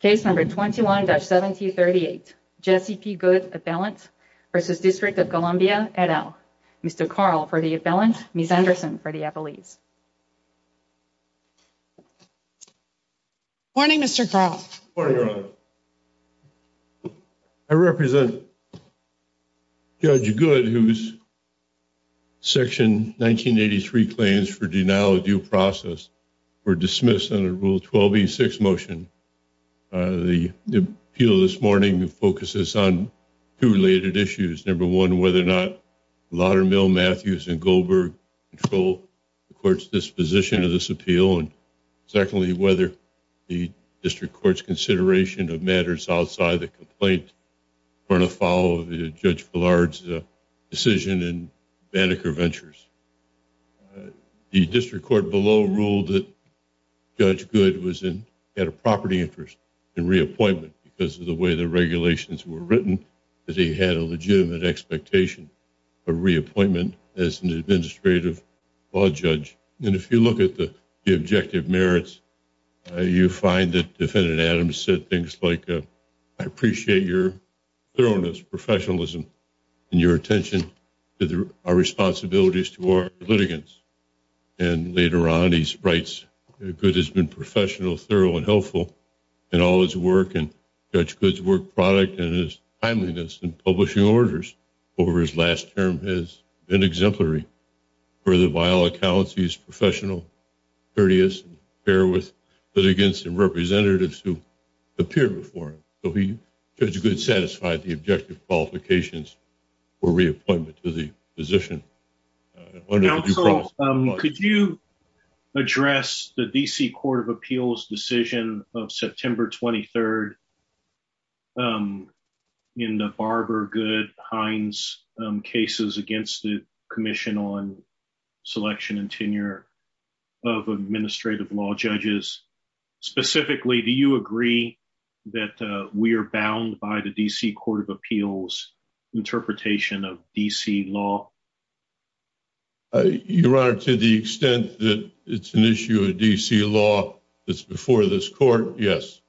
Case number 21-1738, Jesse P. Goode appellant versus District of Columbia et al. Mr. Carl for the appellant, Ms. Anderson for the appellees. Morning Mr. Carl. Morning Your Honor. I represent Judge Goode whose section 1983 claims for denial due process for dismissal under Rule 12e6 motion. The appeal this morning focuses on two related issues. Number one, whether or not Laudermill, Matthews, and Goldberg control the court's disposition of this appeal. And secondly, whether the district court's consideration of matters outside the complaint are going to follow the Judge Villard's decision in below ruled that Judge Goode had a property interest in reappointment because of the way the regulations were written, that he had a legitimate expectation of reappointment as an administrative law judge. And if you look at the objective merits, you find that Defendant Adams said things like, I appreciate your thoroughness, professionalism, and your later on he writes, Goode has been professional, thorough, and helpful in all his work and Judge Goode's work product and his timeliness in publishing orders over his last term has been exemplary. For the vile accounts, he's professional, courteous, fair with, but against the representatives who appear before him. So Judge Goode satisfied the objective qualifications for reappointment to the position. Could you address the D.C. Court of Appeals decision of September 23rd in the Barbara Goode Hines cases against the Commission on Selection and Tenure of Administrative Law Judges? Specifically, do you agree that we are bound by the D.C. interpretation of D.C. law? Your Honor, to the extent that it's an issue of D.C. law that's before this court, yes.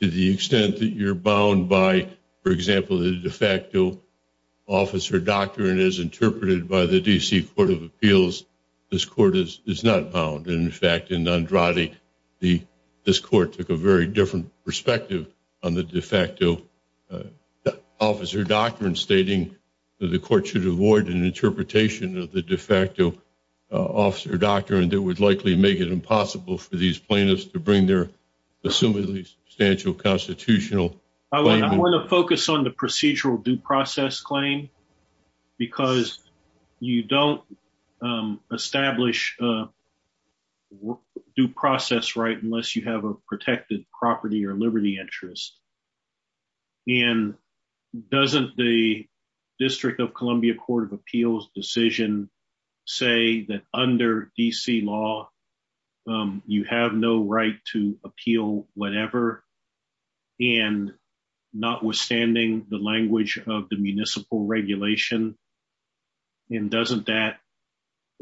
To the extent that you're bound by, for example, the de facto officer doctrine as interpreted by the D.C. Court of Appeals, this court is not bound. In fact, in Andrade, this court took a very different perspective on the de facto officer doctrine, stating that the court should avoid an interpretation of the de facto officer doctrine that would likely make it impossible for these plaintiffs to bring their assumedly substantial constitutional claim. I want to focus on the procedural due process claim because you don't establish a due process right unless you have a protected property or liberty interest. And doesn't the District of Columbia Court of Appeals decision say that under D.C. law you have no right to appeal whatever and notwithstanding the language of the municipal regulation, and doesn't that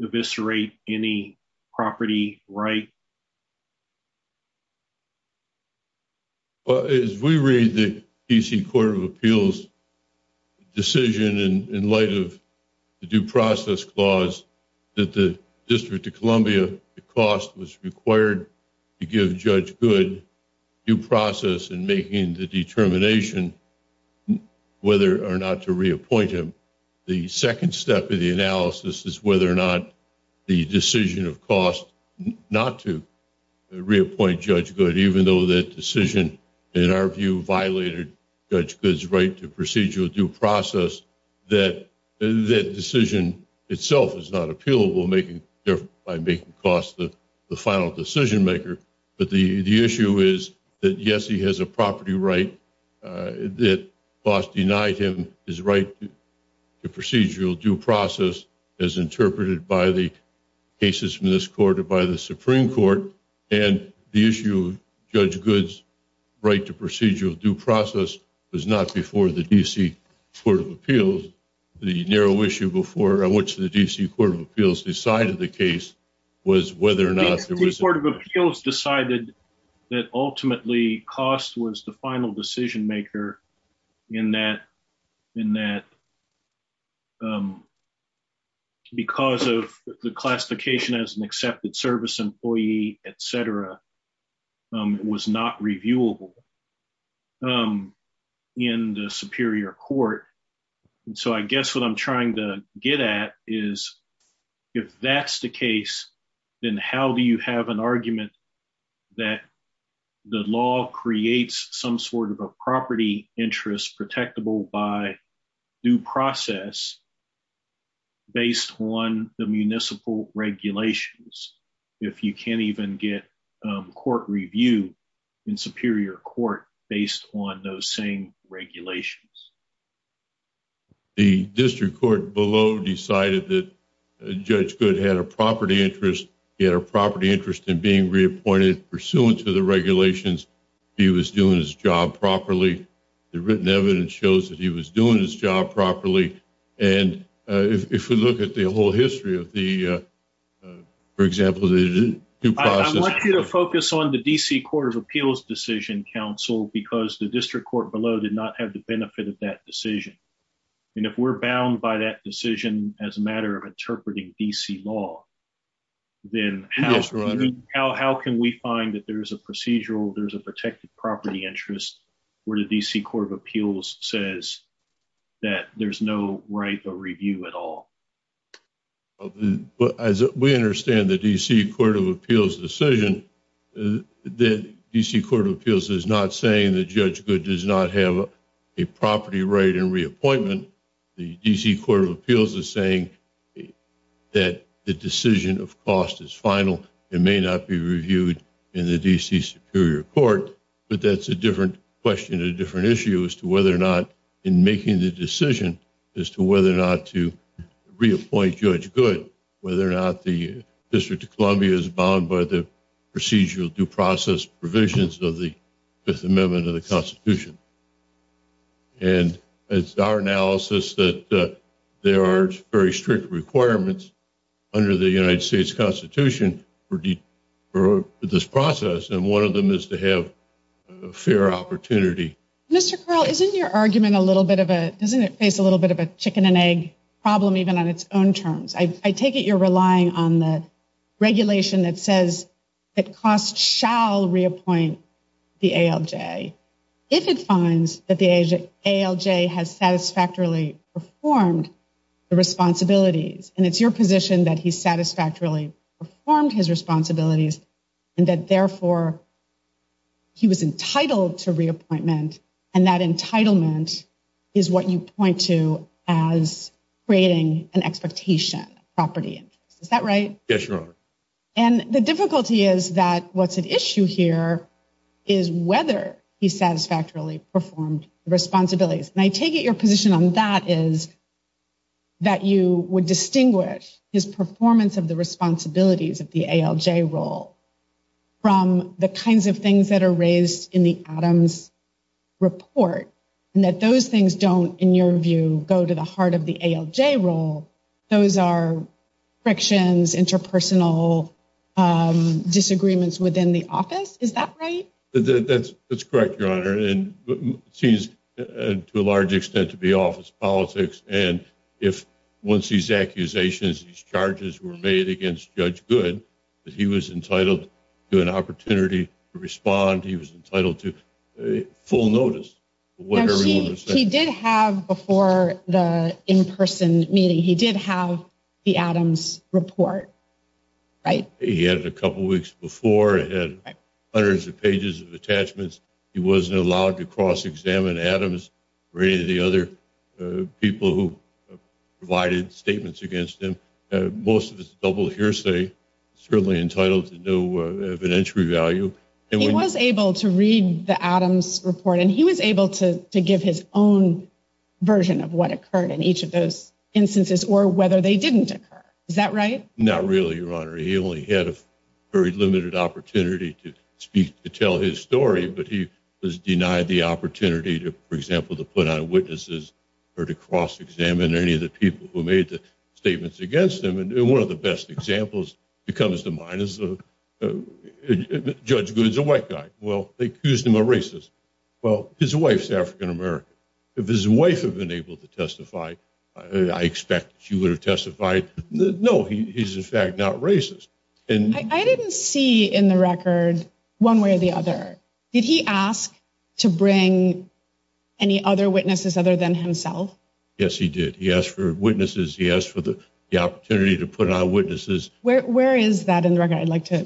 eviscerate any property right? Well, as we read the D.C. Court of Appeals decision in light of the due process clause that the District of Columbia cost was required to give Judge Goode due process in making the determination whether or not to reappoint him, the second step of the analysis is whether or not the decision of cost not to reappoint Judge Goode, even though that decision in our view violated Judge Goode's right to procedural due process, that decision itself is not appealable making by making cost the final decision maker. But the issue is that yes, he has a property right that cost denied him his right to procedural due process as interpreted by the cases from this court or by the Supreme Court, and the issue of Judge Goode's right to procedural due process was not before the D.C. Court of Appeals. The narrow issue before which the D.C. Court of Appeals decided the case was whether or not there was... The D.C. Court of Appeals decided that ultimately cost was the final decision maker in that because of the classification as an accepted service employee, et cetera, it was not reviewable in the Superior Court. And so I guess what I'm trying to get at is if that's the case, then how do you have an argument that the law creates some sort of a property interest protectable by due process based on the municipal regulations if you can't even get court review in Superior Court based on those same regulations? The district court below decided that Judge Goode had a property interest, he had a property interest in being reappointed pursuant to the regulations, he was doing his job properly. The written evidence shows that he was doing his job properly. And if we look at the whole history of the, for example, the due process... I want you to focus on the D.C. Court of Appeals decision, counsel, because the district court below did not have the benefit of that decision. And if we're bound by that decision as a matter of interpreting D.C. law, then how can we find that there's a procedural, there's a protected property interest where the D.C. Court of Appeals says that there's no right to review at all? But as we understand the D.C. Court of Appeals decision, the D.C. Court of Appeals is not saying that Judge Goode does not have a property right in reappointment. The D.C. Court of Appeals is saying that the decision of cost is final, it may not be reviewed in the D.C. Superior Court, but that's a different question, a different issue as to whether or not in making the decision as to whether or not to reappoint Judge Goode, whether or not the District of Columbia is bound by the procedural due process provisions of the Amendment of the Constitution. And it's our analysis that there are very strict requirements under the United States Constitution for this process, and one of them is to have a fair opportunity. Mr. Curl, isn't your argument a little bit of a, doesn't it face a little bit of a chicken and egg problem even on its own terms? I take it you're relying on the regulation that says that cost shall reappoint the ALJ if it finds that the ALJ has satisfactorily performed the responsibilities, and it's your position that he satisfactorily performed his responsibilities and that therefore he was entitled to reappointment, and that entitlement is what you point to as creating an expectation of property interest, is that right? Yes, Your Honor. And the difficulty is that what's at issue here is whether he satisfactorily performed the responsibilities, and I take it your position on that is that you would distinguish his performance of the responsibilities of the ALJ role from the kinds of things that are raised in the Adams report, and that those things don't, in your view, go to the heart of the ALJ role. Those are frictions, interpersonal disagreements within the office, is that right? That's correct, Your Honor, and it seems to a large extent to be office politics, and if once these accusations, these charges were made against Judge Good, that he was entitled to an opportunity to respond, he was entitled to full notice. He did have, before the in-person meeting, he did have the Adams report, right? He had it a couple weeks before, it had hundreds of pages of attachments, he wasn't allowed to cross-examine Adams or any of the other people who provided statements against him. Most of it's double hearsay, certainly entitled to no evidentiary value. He was able to read the Adams report, and he was able to give his own version of what occurred in each of those instances, or whether they didn't occur, is that right? Not really, Your Honor, he only had a very limited opportunity to speak, to tell his story, but he was denied the opportunity to, for example, to put on witnesses or to cross-examine any of the people who made the judgment. Judge Good's a white guy. Well, they accused him of racism. Well, his wife's African American. If his wife had been able to testify, I expect she would have testified. No, he's in fact not racist. I didn't see in the record one way or the other. Did he ask to bring any other witnesses other than himself? Yes, he did. He asked for witnesses, he asked for the opportunity to put on witnesses. Where is that in the record? I'd like to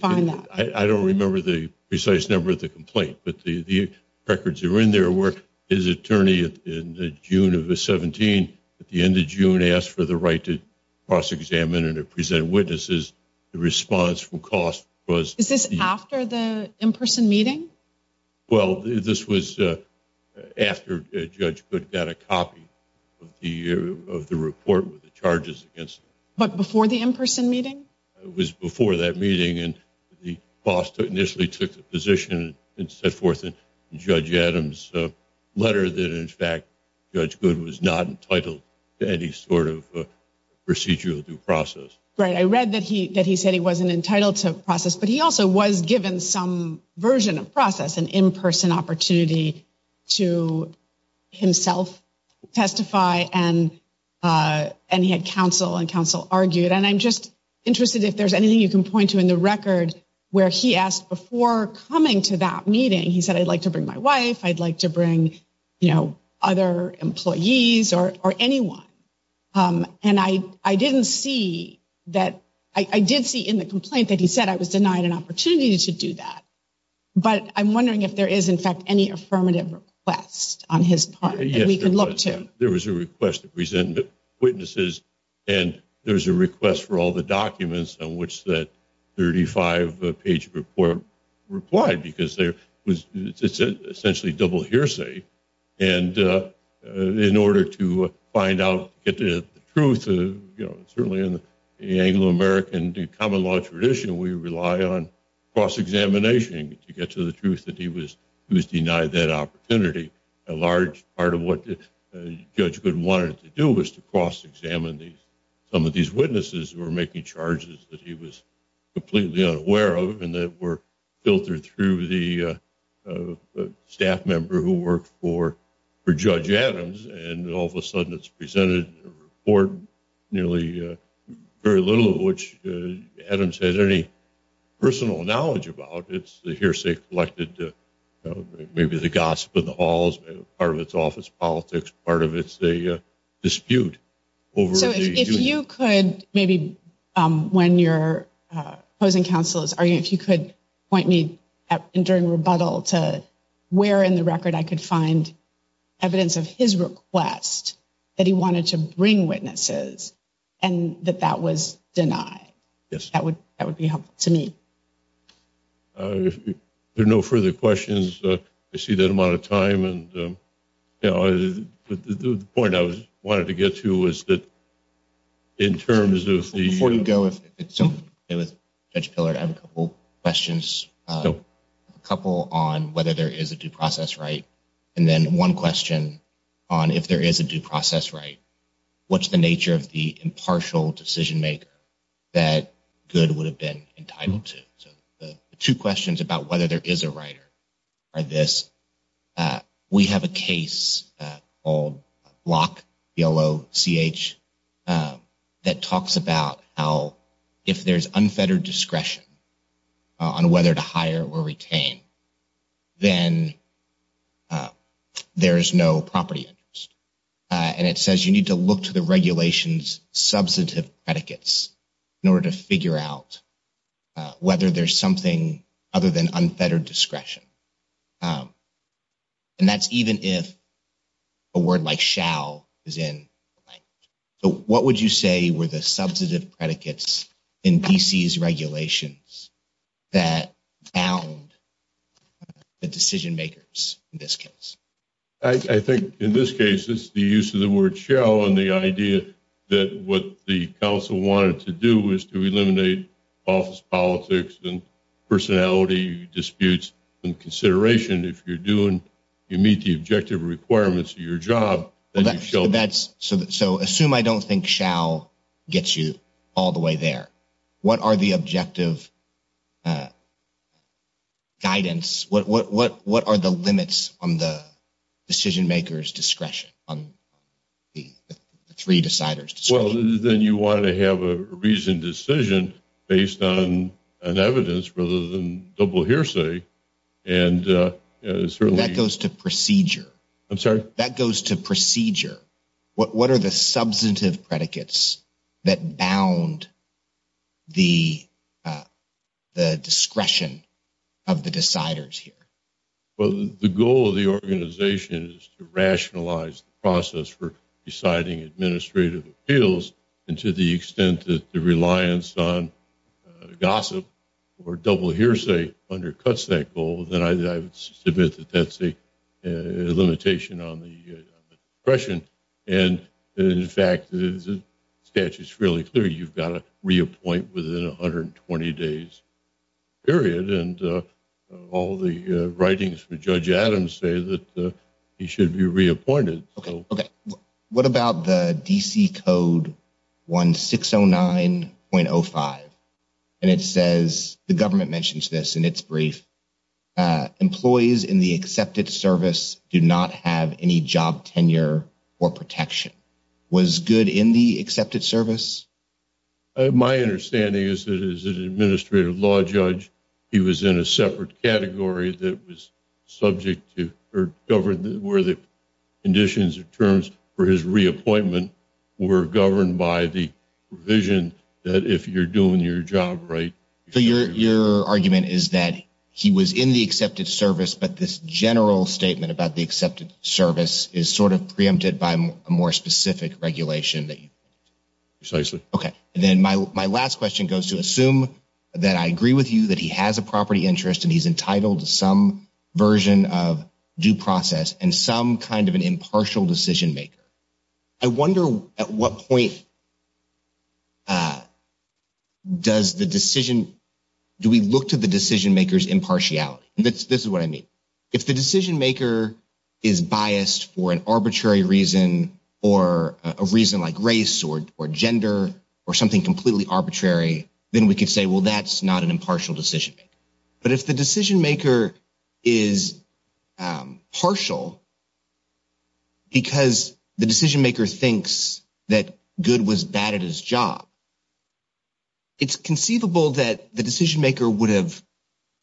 find that. I don't remember the precise number of the complaint, but the records that were in there were his attorney in the June of the 17th at the end of June asked for the right to cross-examine and to present witnesses. The response from cost was... Is this after the in-person meeting? Well, this was after Judge Good got a copy of the report with the charges against him. But before the in-person meeting? It was before that meeting and the boss initially took the position and set forth in Judge Adam's letter that in fact Judge Good was not entitled to any sort of procedural due process. Right, I read that he said he wasn't entitled to process, but he also was given some version of process, an in-person opportunity to himself testify and he had counsel and counsel argued. And I'm just interested if there's anything you can point to in the record where he asked before coming to that meeting, he said, I'd like to bring my wife, I'd like to bring, you know, other employees or anyone. And I didn't see that. I did see in the complaint that he said I was denied an opportunity to do that. But I'm wondering if there is, in fact, any affirmative request on his part that we could look to. There was a request to present witnesses and there was a request for all the documents on which that 35-page report replied because it's essentially double hearsay. And in order to find out the truth, you know, certainly in the Anglo-American common law tradition, we rely on cross-examination to get to the truth that he was denied that opportunity. A large part of what Judge Gooden wanted to do was to cross-examine some of these witnesses who were making charges that he was completely unaware of and that were filtered through the staff member who worked for Judge Adams. And all of a sudden it's presented in a report, nearly very little of which Adams had any personal knowledge about. It's the hearsay collected, maybe the gossip in the halls, part of its office politics, part of its dispute. So if you could, maybe when you're posing counsel, if you could point me during rebuttal to where in the record I could find evidence of his request that he wanted to bring witnesses and that that was denied. Yes, that would that would be helpful to me. If there are no further questions, I see that amount of time and, you know, the point I was wanting to get to was that in terms of the... Before you go, if it's okay with Judge Pillard, I have a couple questions. A couple on whether there is a due process right and then one question on if there is a due process right. What's the nature of the impartial decision maker that Good would have been entitled to? So the two questions about whether there is a writer are this. We have a case called Block, B-L-O-C-H, that talks about how if there's unfettered discretion on whether to hire or retain, then there is no property interest. And it says you need to look to the regulations substantive predicates in order to figure out whether there's something other than unfettered discretion. And that's even if a word like shall is in the language. So what would you say were the substantive predicates in D.C.'s regulations that found the decision makers in this case? I think in this case, it's the use of the word shall and the idea that what the council wanted to do was to eliminate office politics and personality disputes and consideration. If you're doing, you meet the objective requirements of your job. So assume I don't think shall gets you all the way there. What are the objective uh guidance what what what what are the limits on the decision makers discretion on the three deciders? Well then you want to have a reasoned decision based on an evidence rather than double hearsay. And that goes to procedure. I'm sorry? That goes to procedure. What what are the the discretion of the deciders here? Well, the goal of the organization is to rationalize the process for deciding administrative appeals. And to the extent that the reliance on gossip or double hearsay undercuts that goal, then I would submit that that's a limitation on the question. And in fact, the statute is fairly clear. You've got to reappoint within 120 days period. And all the writings for Judge Adams say that he should be reappointed. Okay. Okay. What about the D.C. Code 1609.05? And it says, the government mentions this in its brief. Employees in the accepted service do not have any job tenure or protection. Was good in the accepted service? My understanding is that as an administrative law judge, he was in a separate category that was subject to or governed where the conditions or terms for his reappointment were governed by the provision that if you're doing your job right. So your your argument is that he was in the accepted service, but this general statement about the accepted service is sort of preempted by a more specific regulation that you. Precisely. Okay. And then my last question goes to assume that I agree with you that he has a property interest and he's entitled to some version of due process and some kind of an impartial decision maker. I wonder at what point does the decision, do we look to the decision maker's impartiality? This is what I mean. If the decision maker is biased for an arbitrary reason or a reason like race or gender or something completely arbitrary, then we could say, well, that's not an impartial decision. But if the decision maker is partial. Because the decision maker thinks that good was bad at his job. It's conceivable that the decision maker would have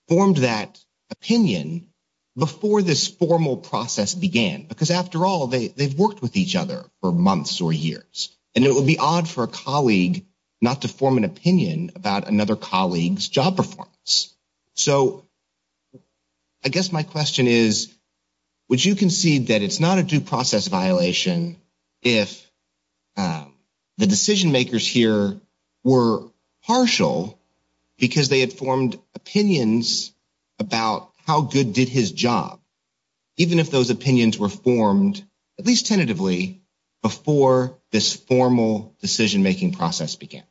formed that opinion before this formal process began, because after all, they've worked with each other for months or years, and it would be odd for a colleague not to form an opinion about another colleague's job performance. So I guess my question is, would you concede that it's not a due process violation if the decision makers here were partial because they had formed opinions about how good did his job, even if those opinions were formed, at least tentatively, before this formal decision making process began?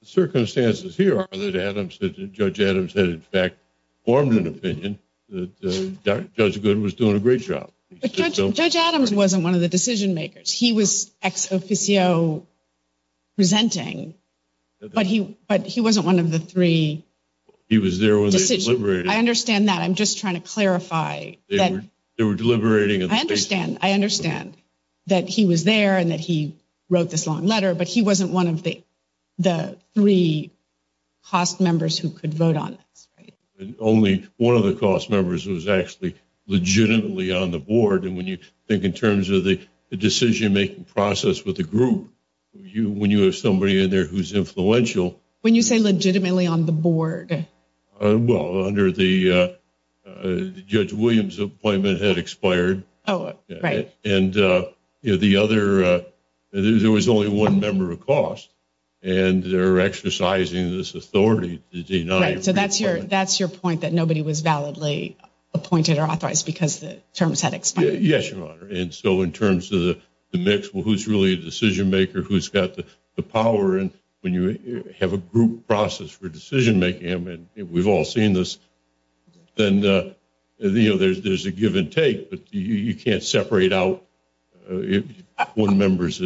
The circumstances here are that Judge Adams had in fact formed an opinion that Judge Good was doing a great job. But Judge Adams wasn't one of the decision makers. He was ex officio presenting, but he wasn't one of the three. He was there. I understand that. I'm just trying to clarify. They were deliberating. I understand. I understand that he was there and that he wrote this long letter, but he wasn't one of the three cost members who could vote on this. Only one of the cost members was actually legitimately on the board. And when you think in terms of the decision making process with the group, when you have somebody in there who's influential... When you say legitimately on the board? Well, under the... Judge Williams' appointment had expired. Oh, right. And the other... There was only one member of cost, and they're exercising this authority to deny... So that's your point, that nobody was validly appointed or authorized because the terms had expired. And so in terms of the mix, well, who's really a decision maker? Who's got the power? And when you have a group process for decision making, I mean, we've all seen this, then there's a give and take, but you can't separate out one member as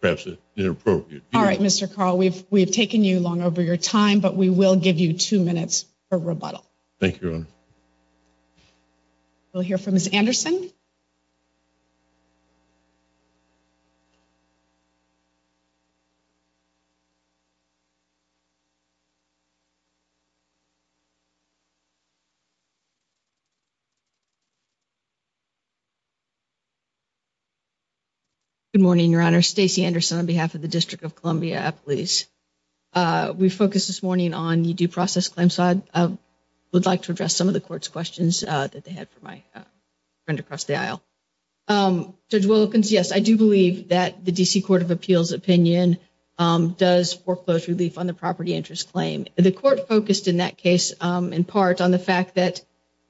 perhaps inappropriate. All right, Mr. Carl, we've taken you long over your time, but we will give you two minutes for rebuttal. Thank you, Your Honor. We'll hear from Ms. Anderson. Good morning, Your Honor. Stacey Anderson on behalf of the District of Columbia Police. We focused this morning on the due process claim side. I would like to address some of the court's questions that they had for my friend across the aisle. Judge Wilkins, yes, I do believe that the D.C. Court of Appeals opinion does foreclose relief on the property interest claim. The court focused in that case in part on the fact that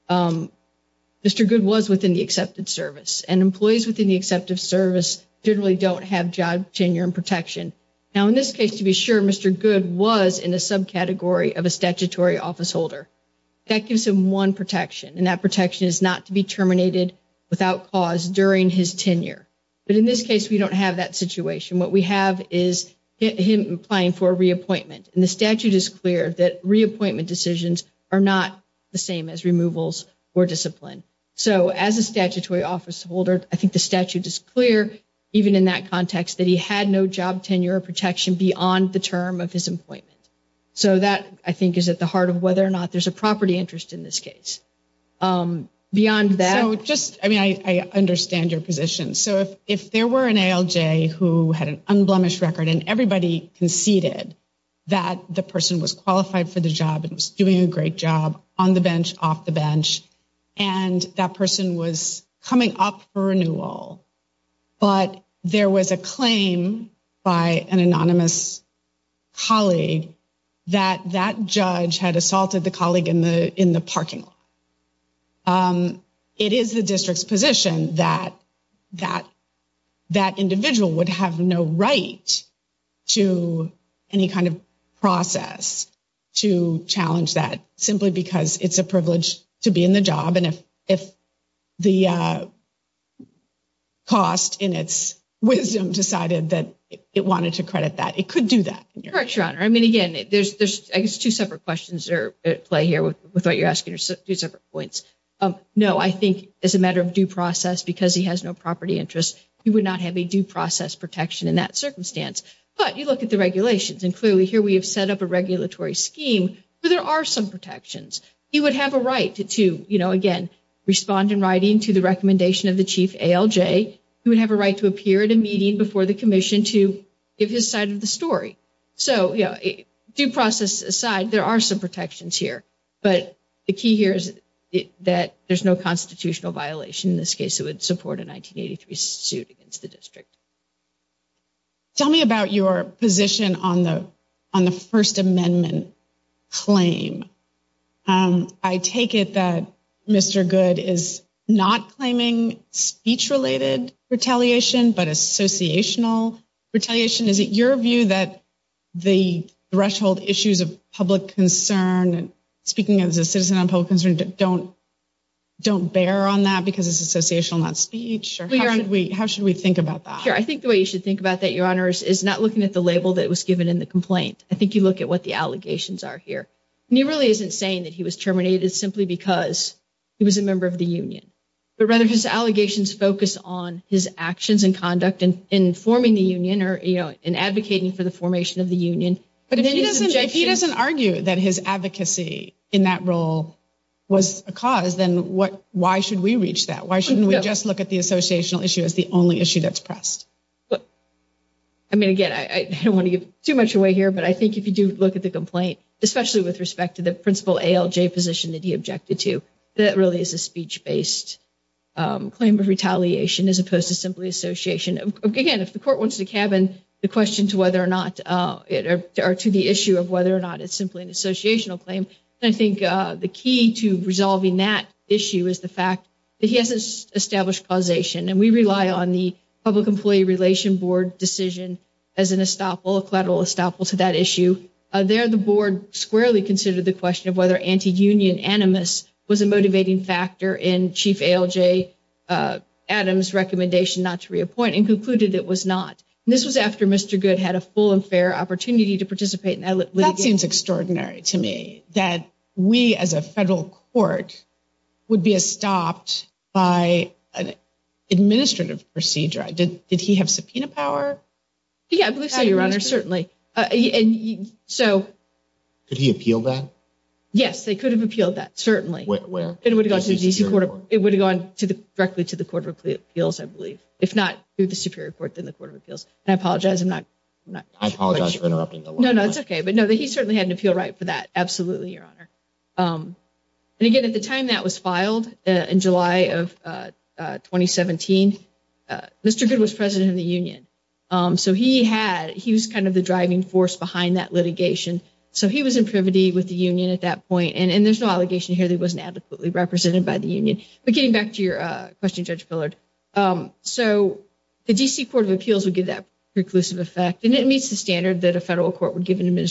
Mr. Good was within the accepted service, and employees within the accepted service generally don't have job, tenure, and protection. Now, in this case, to be sure, Mr. Good was in a subcategory of a statutory officeholder. That gives him one protection, and that protection is not to be terminated without cause during his tenure. But in this case, we don't have that situation. What we have is him applying for a reappointment, and the statute is clear that reappointment decisions are not the same as removals or discipline. So, as a statutory officeholder, I think the statute is clear, even in that context, that he had no job, tenure, or protection beyond the term of his employment. So, that, I think, is at the heart of whether or not there's a property interest in this case. Beyond that... So, just, I mean, I understand your position. So, if there were an ALJ who had an unblemished record, and everybody conceded that the person was qualified for the job and was doing a great job, on the bench, off the bench, and that person was coming up for renewal, but there was a claim by an anonymous colleague that that judge had assaulted the colleague in the parking lot, it is the district's position that that individual would have no right to any kind of process to challenge that, simply because it's a privilege to be in the job. If the cost, in its wisdom, decided that it wanted to credit that, it could do that. Correct, Your Honor. I mean, again, there's, I guess, two separate questions that play here with what you're asking, two separate points. No, I think, as a matter of due process, because he has no property interest, he would not have a due process protection in that circumstance. But you look at the regulations, and clearly, here, we have set up a regulatory scheme, where there are some protections. He would have a right to, you know, again, respond in writing to the recommendation of the chief ALJ. He would have a right to appear at a meeting before the commission to give his side of the story. So, you know, due process aside, there are some protections here, but the key here is that there's no constitutional violation in this case that would support a 1983 suit against the district. Tell me about your position on the First Amendment claim. I take it that Mr. Good is not claiming speech-related retaliation, but associational retaliation. Is it your view that the threshold issues of public concern, speaking as a citizen on public concern, don't bear on that because it's associational, not speech? How should we think about that? Sure, I think the way you should think about that, Your Honors, is not looking at the label that was given in the complaint. I think you look at what the allegations are here. He really isn't saying that he was terminated simply because he was a member of the union, but rather his allegations focus on his actions and conduct in forming the union or, you know, in advocating for the formation of the union. But if he doesn't argue that his advocacy in that role was a cause, then why should we reach that? Why shouldn't we just look at the associational issue as the only issue that's pressed? But, I mean, again, I don't want to give too much away here, but I think if you do look at the complaint, especially with respect to the principal ALJ position that he objected to, that really is a speech-based claim of retaliation as opposed to simply association. Again, if the court wants to cabin the question to whether or not it or to the issue of whether or not it's simply an associational claim, I think the key to resolving that issue is the fact that he has established causation, and we rely on the Public Employee Relation Board decision as an estoppel, a collateral estoppel to that issue. There, the board squarely considered the question of whether anti-union animus was a motivating factor in Chief ALJ Adams' recommendation not to reappoint and concluded it was not. This was after Mr. Goode had a full and fair opportunity to participate in that litigation. That seems extraordinary to me, that we as a federal court would be stopped by an administrative procedure. Did he have subpoena power? Yeah, I believe so, Your Honor, certainly. Could he appeal that? Yes, they could have appealed that, certainly. Where? It would have gone directly to the Court of Appeals, I believe, if not through the Superior Court, then the Court of Appeals. I apologize for interrupting. No, no, it's okay. But no, he certainly had an appeal right for that, absolutely, Your Honor. And again, at the time that was filed, in July of 2017, Mr. Goode was president of the union, so he had, he was kind of the driving force behind that litigation. So he was in privity with the union at that point, and there's no allegation here that he wasn't adequately represented by the union. But getting back to your question, Judge Pillard, so the D.C. Court of Appeals would give that preclusive effect, and it meets the standard that a federal court would give an D.C.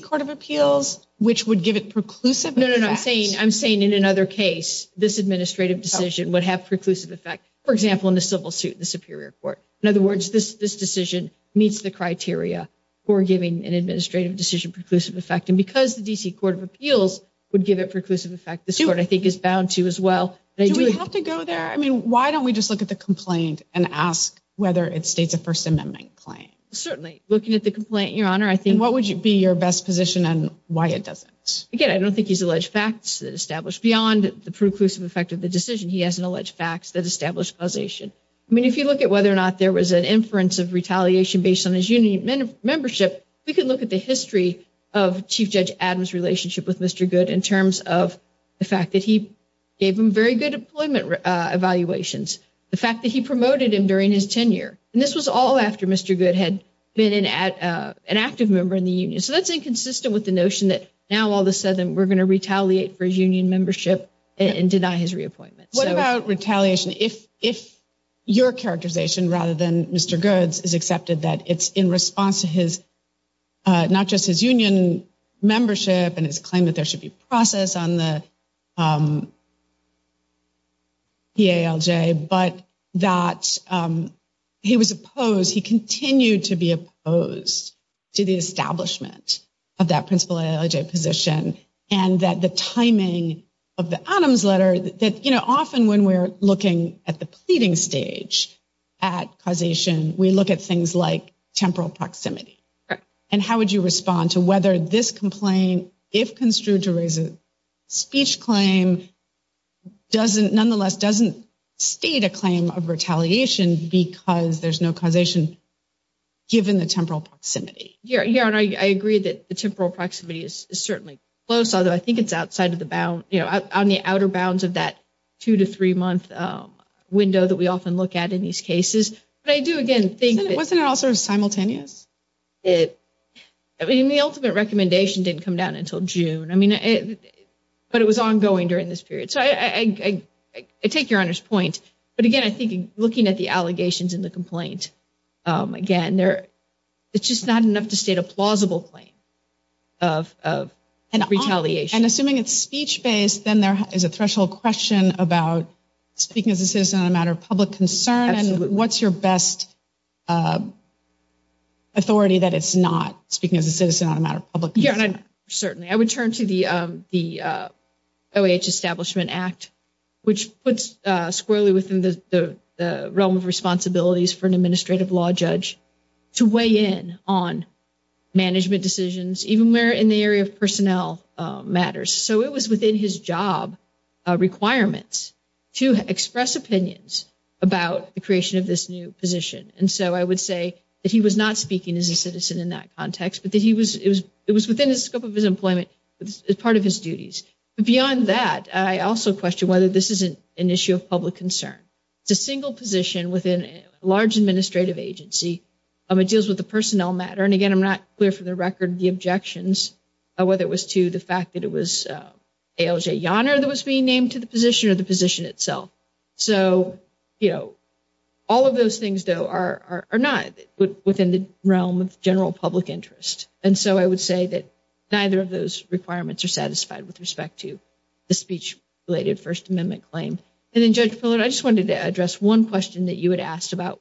Court of Appeals, which would give it preclusive effect. No, no, I'm saying in another case, this administrative decision would have preclusive effect, for example, in the civil suit in the Superior Court. In other words, this decision meets the criteria for giving an administrative decision preclusive effect. And because the D.C. Court of Appeals would give it preclusive effect, this court, I think, is bound to as well. Do we have to go there? I mean, why don't we just look at the complaint and ask whether it states a First Amendment claim? Certainly. Looking at the complaint, Your Honor, I think... And what would be your best position on why it doesn't? Again, I don't think he's alleged facts that establish beyond the preclusive effect of the decision. He hasn't alleged facts that establish causation. I mean, if you look at whether or not there was an inference of retaliation based on his union membership, we could look at the history of Chief Judge Adams' relationship with Mr. Goode in terms of the fact that he gave him very good employment evaluations, the fact that he promoted him during his tenure. And this was all after Mr. Goode had been an active member in the union. So that's inconsistent with the notion that now, all of a sudden, we're going to retaliate for his union membership and deny his reappointment. What about retaliation? If your characterization, rather than Mr. Goode's, is accepted that it's in response to not just his union membership and his claim that there should be process on the but that he was opposed, he continued to be opposed to the establishment of that principal position and that the timing of the Adams letter, that often when we're looking at the pleading stage at causation, we look at things like temporal proximity. And how would you respond to whether this complaint, if construed to raise a speech claim, nonetheless doesn't state a claim of retaliation because there's no causation given the temporal proximity? I agree that the temporal proximity is certainly close, although I think it's outside of the bound, on the outer bounds of that two to three month window that we often look at in these cases. But I do, again, think Wasn't it also simultaneous? The ultimate recommendation didn't come down until June. But it was ongoing during this period. So I take your Honor's point. But again, I think looking at the allegations in the complaint, again, it's just not enough to state a plausible claim of retaliation. And assuming it's speech-based, then there is a threshold question about speaking as a citizen on a matter of public concern. And what's your best authority that it's not speaking as a citizen on a matter of public concern? Certainly. I would turn to the OAH Establishment Act, which puts squarely within the realm of responsibilities for an administrative law judge to weigh in on management decisions, even where in the area of personnel matters. So it was within his job requirements to express opinions about the creation of this new position. And so I would say that he was not speaking as a citizen in that context, but that it was within the scope of his employment as part of his duties. Beyond that, I also question whether this is an issue of public concern. It's a single position within a large administrative agency. It deals with the personnel matter. And again, I'm not clear for the record the objections, whether it was to the fact that it was ALJ Yoner that was being named to the position or the position itself. So, you know, all of those things, though, are not within the realm of general public interest. And so I would say that neither of those requirements are satisfied with respect to the speech-related First Amendment claim. And then, Judge Pillard, I just wanted to address one question that you had asked about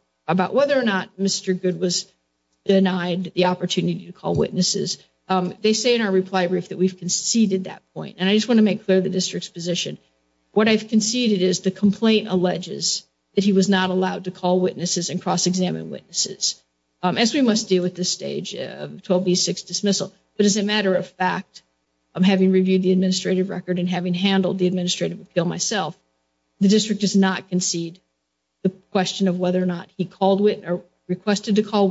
whether or not Mr. Good was denied the opportunity to call witnesses. They say in our reply brief that we've conceded that point. And I just want to make clear the district's position. What I've conceded is the complaint alleges that he was not allowed to call witnesses and cross-examine witnesses, as we must deal with this stage of 12B6 dismissal. But as a matter of fact, having reviewed the administrative record and having handled the administrative appeal myself, the district does not concede the question of whether or not he called or requested to call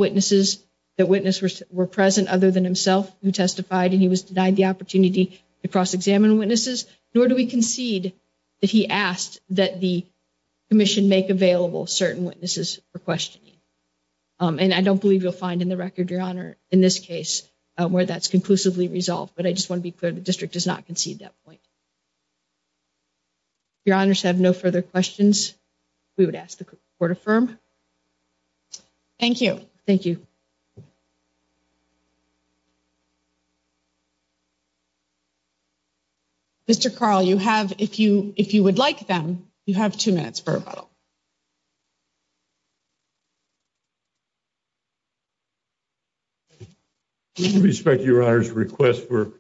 to cross-examine witnesses, nor do we concede that he asked that the commission make available certain witnesses for questioning. And I don't believe you'll find in the record, Your Honor, in this case where that's conclusively resolved. But I just want to be clear, the district does not concede that point. If Your Honors have no further questions, we would ask the Court affirm. Thank you. Thank you. Mr. Carl, you have, if you would like them, you have two minutes for rebuttal. With respect to Your Honor's request for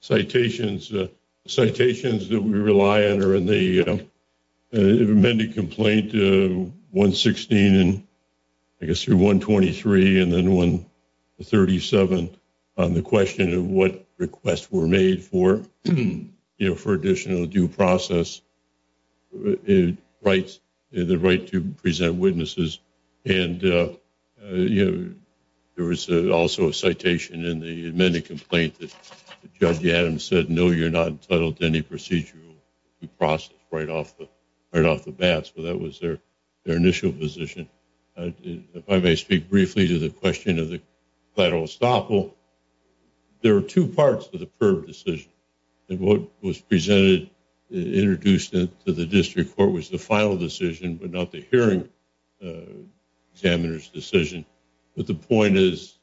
citations, the citations that we rely on are in the amended complaint 116 and I guess through 123 and then 137 on the question of what requests were made for, you know, for additional due process rights, the right to present witnesses. And, you know, there was also a citation in the amended complaint that Judge Adams said, no, you're not entitled to any procedural due process right off the bat. So that was their initial position. If I may speak briefly to the question of the collateral estoppel, there are two parts to the PIRB decision. And what was presented, introduced into the district court was the final decision, but not the hearing examiner's decision. But the point is,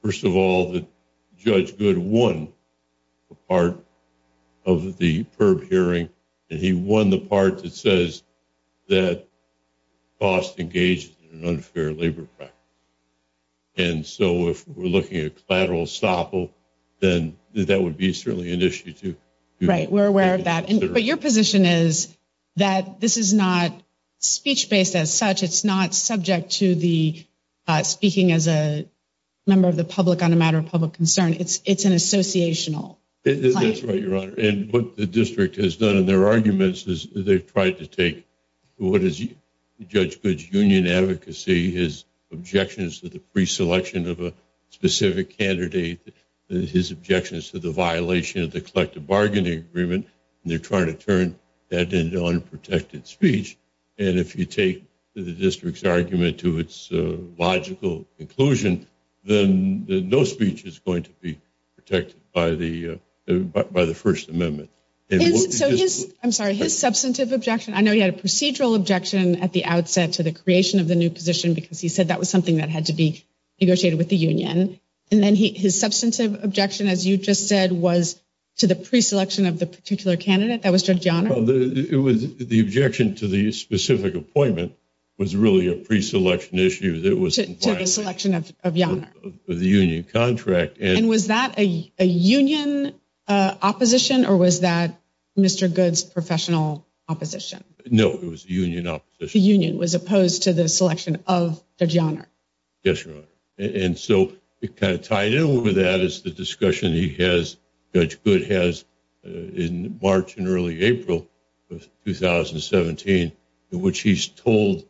first of all, that Judge Good won a part of the PIRB hearing, and he won the part that says that costs engaged in an unfair labor practice. And so if we're looking at collateral estoppel, then that would be certainly an issue too. Right. We're aware of that. But your position is that this is not speech based as such. It's not subject to the speaking as a member of the public on a matter of public concern. It's an associational. That's right, Your Honor. And what the district has done in their arguments is they've tried to take what is Judge Good's union advocacy, his objections to the preselection of a specific candidate, his objections to the violation of the collective bargaining agreement, and they're trying to turn that into unprotected speech. And if you take the district's argument to its logical conclusion, then no speech is going to be protected by the First Amendment. I'm sorry, his substantive objection, I know he had a procedural objection at the outset to the creation of the new position because he said that was something that had to be negotiated with the union. And then his substantive objection, as you just said, was to the preselection of the particular candidate that was Judge Yonner. It was the objection to the specific appointment was really a preselection issue that was to the selection of Yonner. The union contract. And was that a union opposition or was that Mr. Good's professional opposition? No, it was a union opposition. The union was opposed to the selection of Judge Yonner. Yes, Your Honor. And so it kind of tied in with that is the discussion he has, Judge Good has, in March and early April of 2017, in which he's told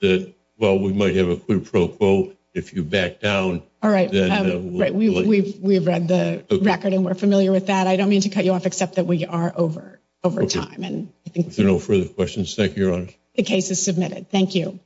that, well, we might have a pro quo if you back down. All right. We've read the record and we're familiar with that. I don't mean to cut you off, except that we are over time. If there are no further questions, thank you, Your Honor. The case is submitted. Thank you.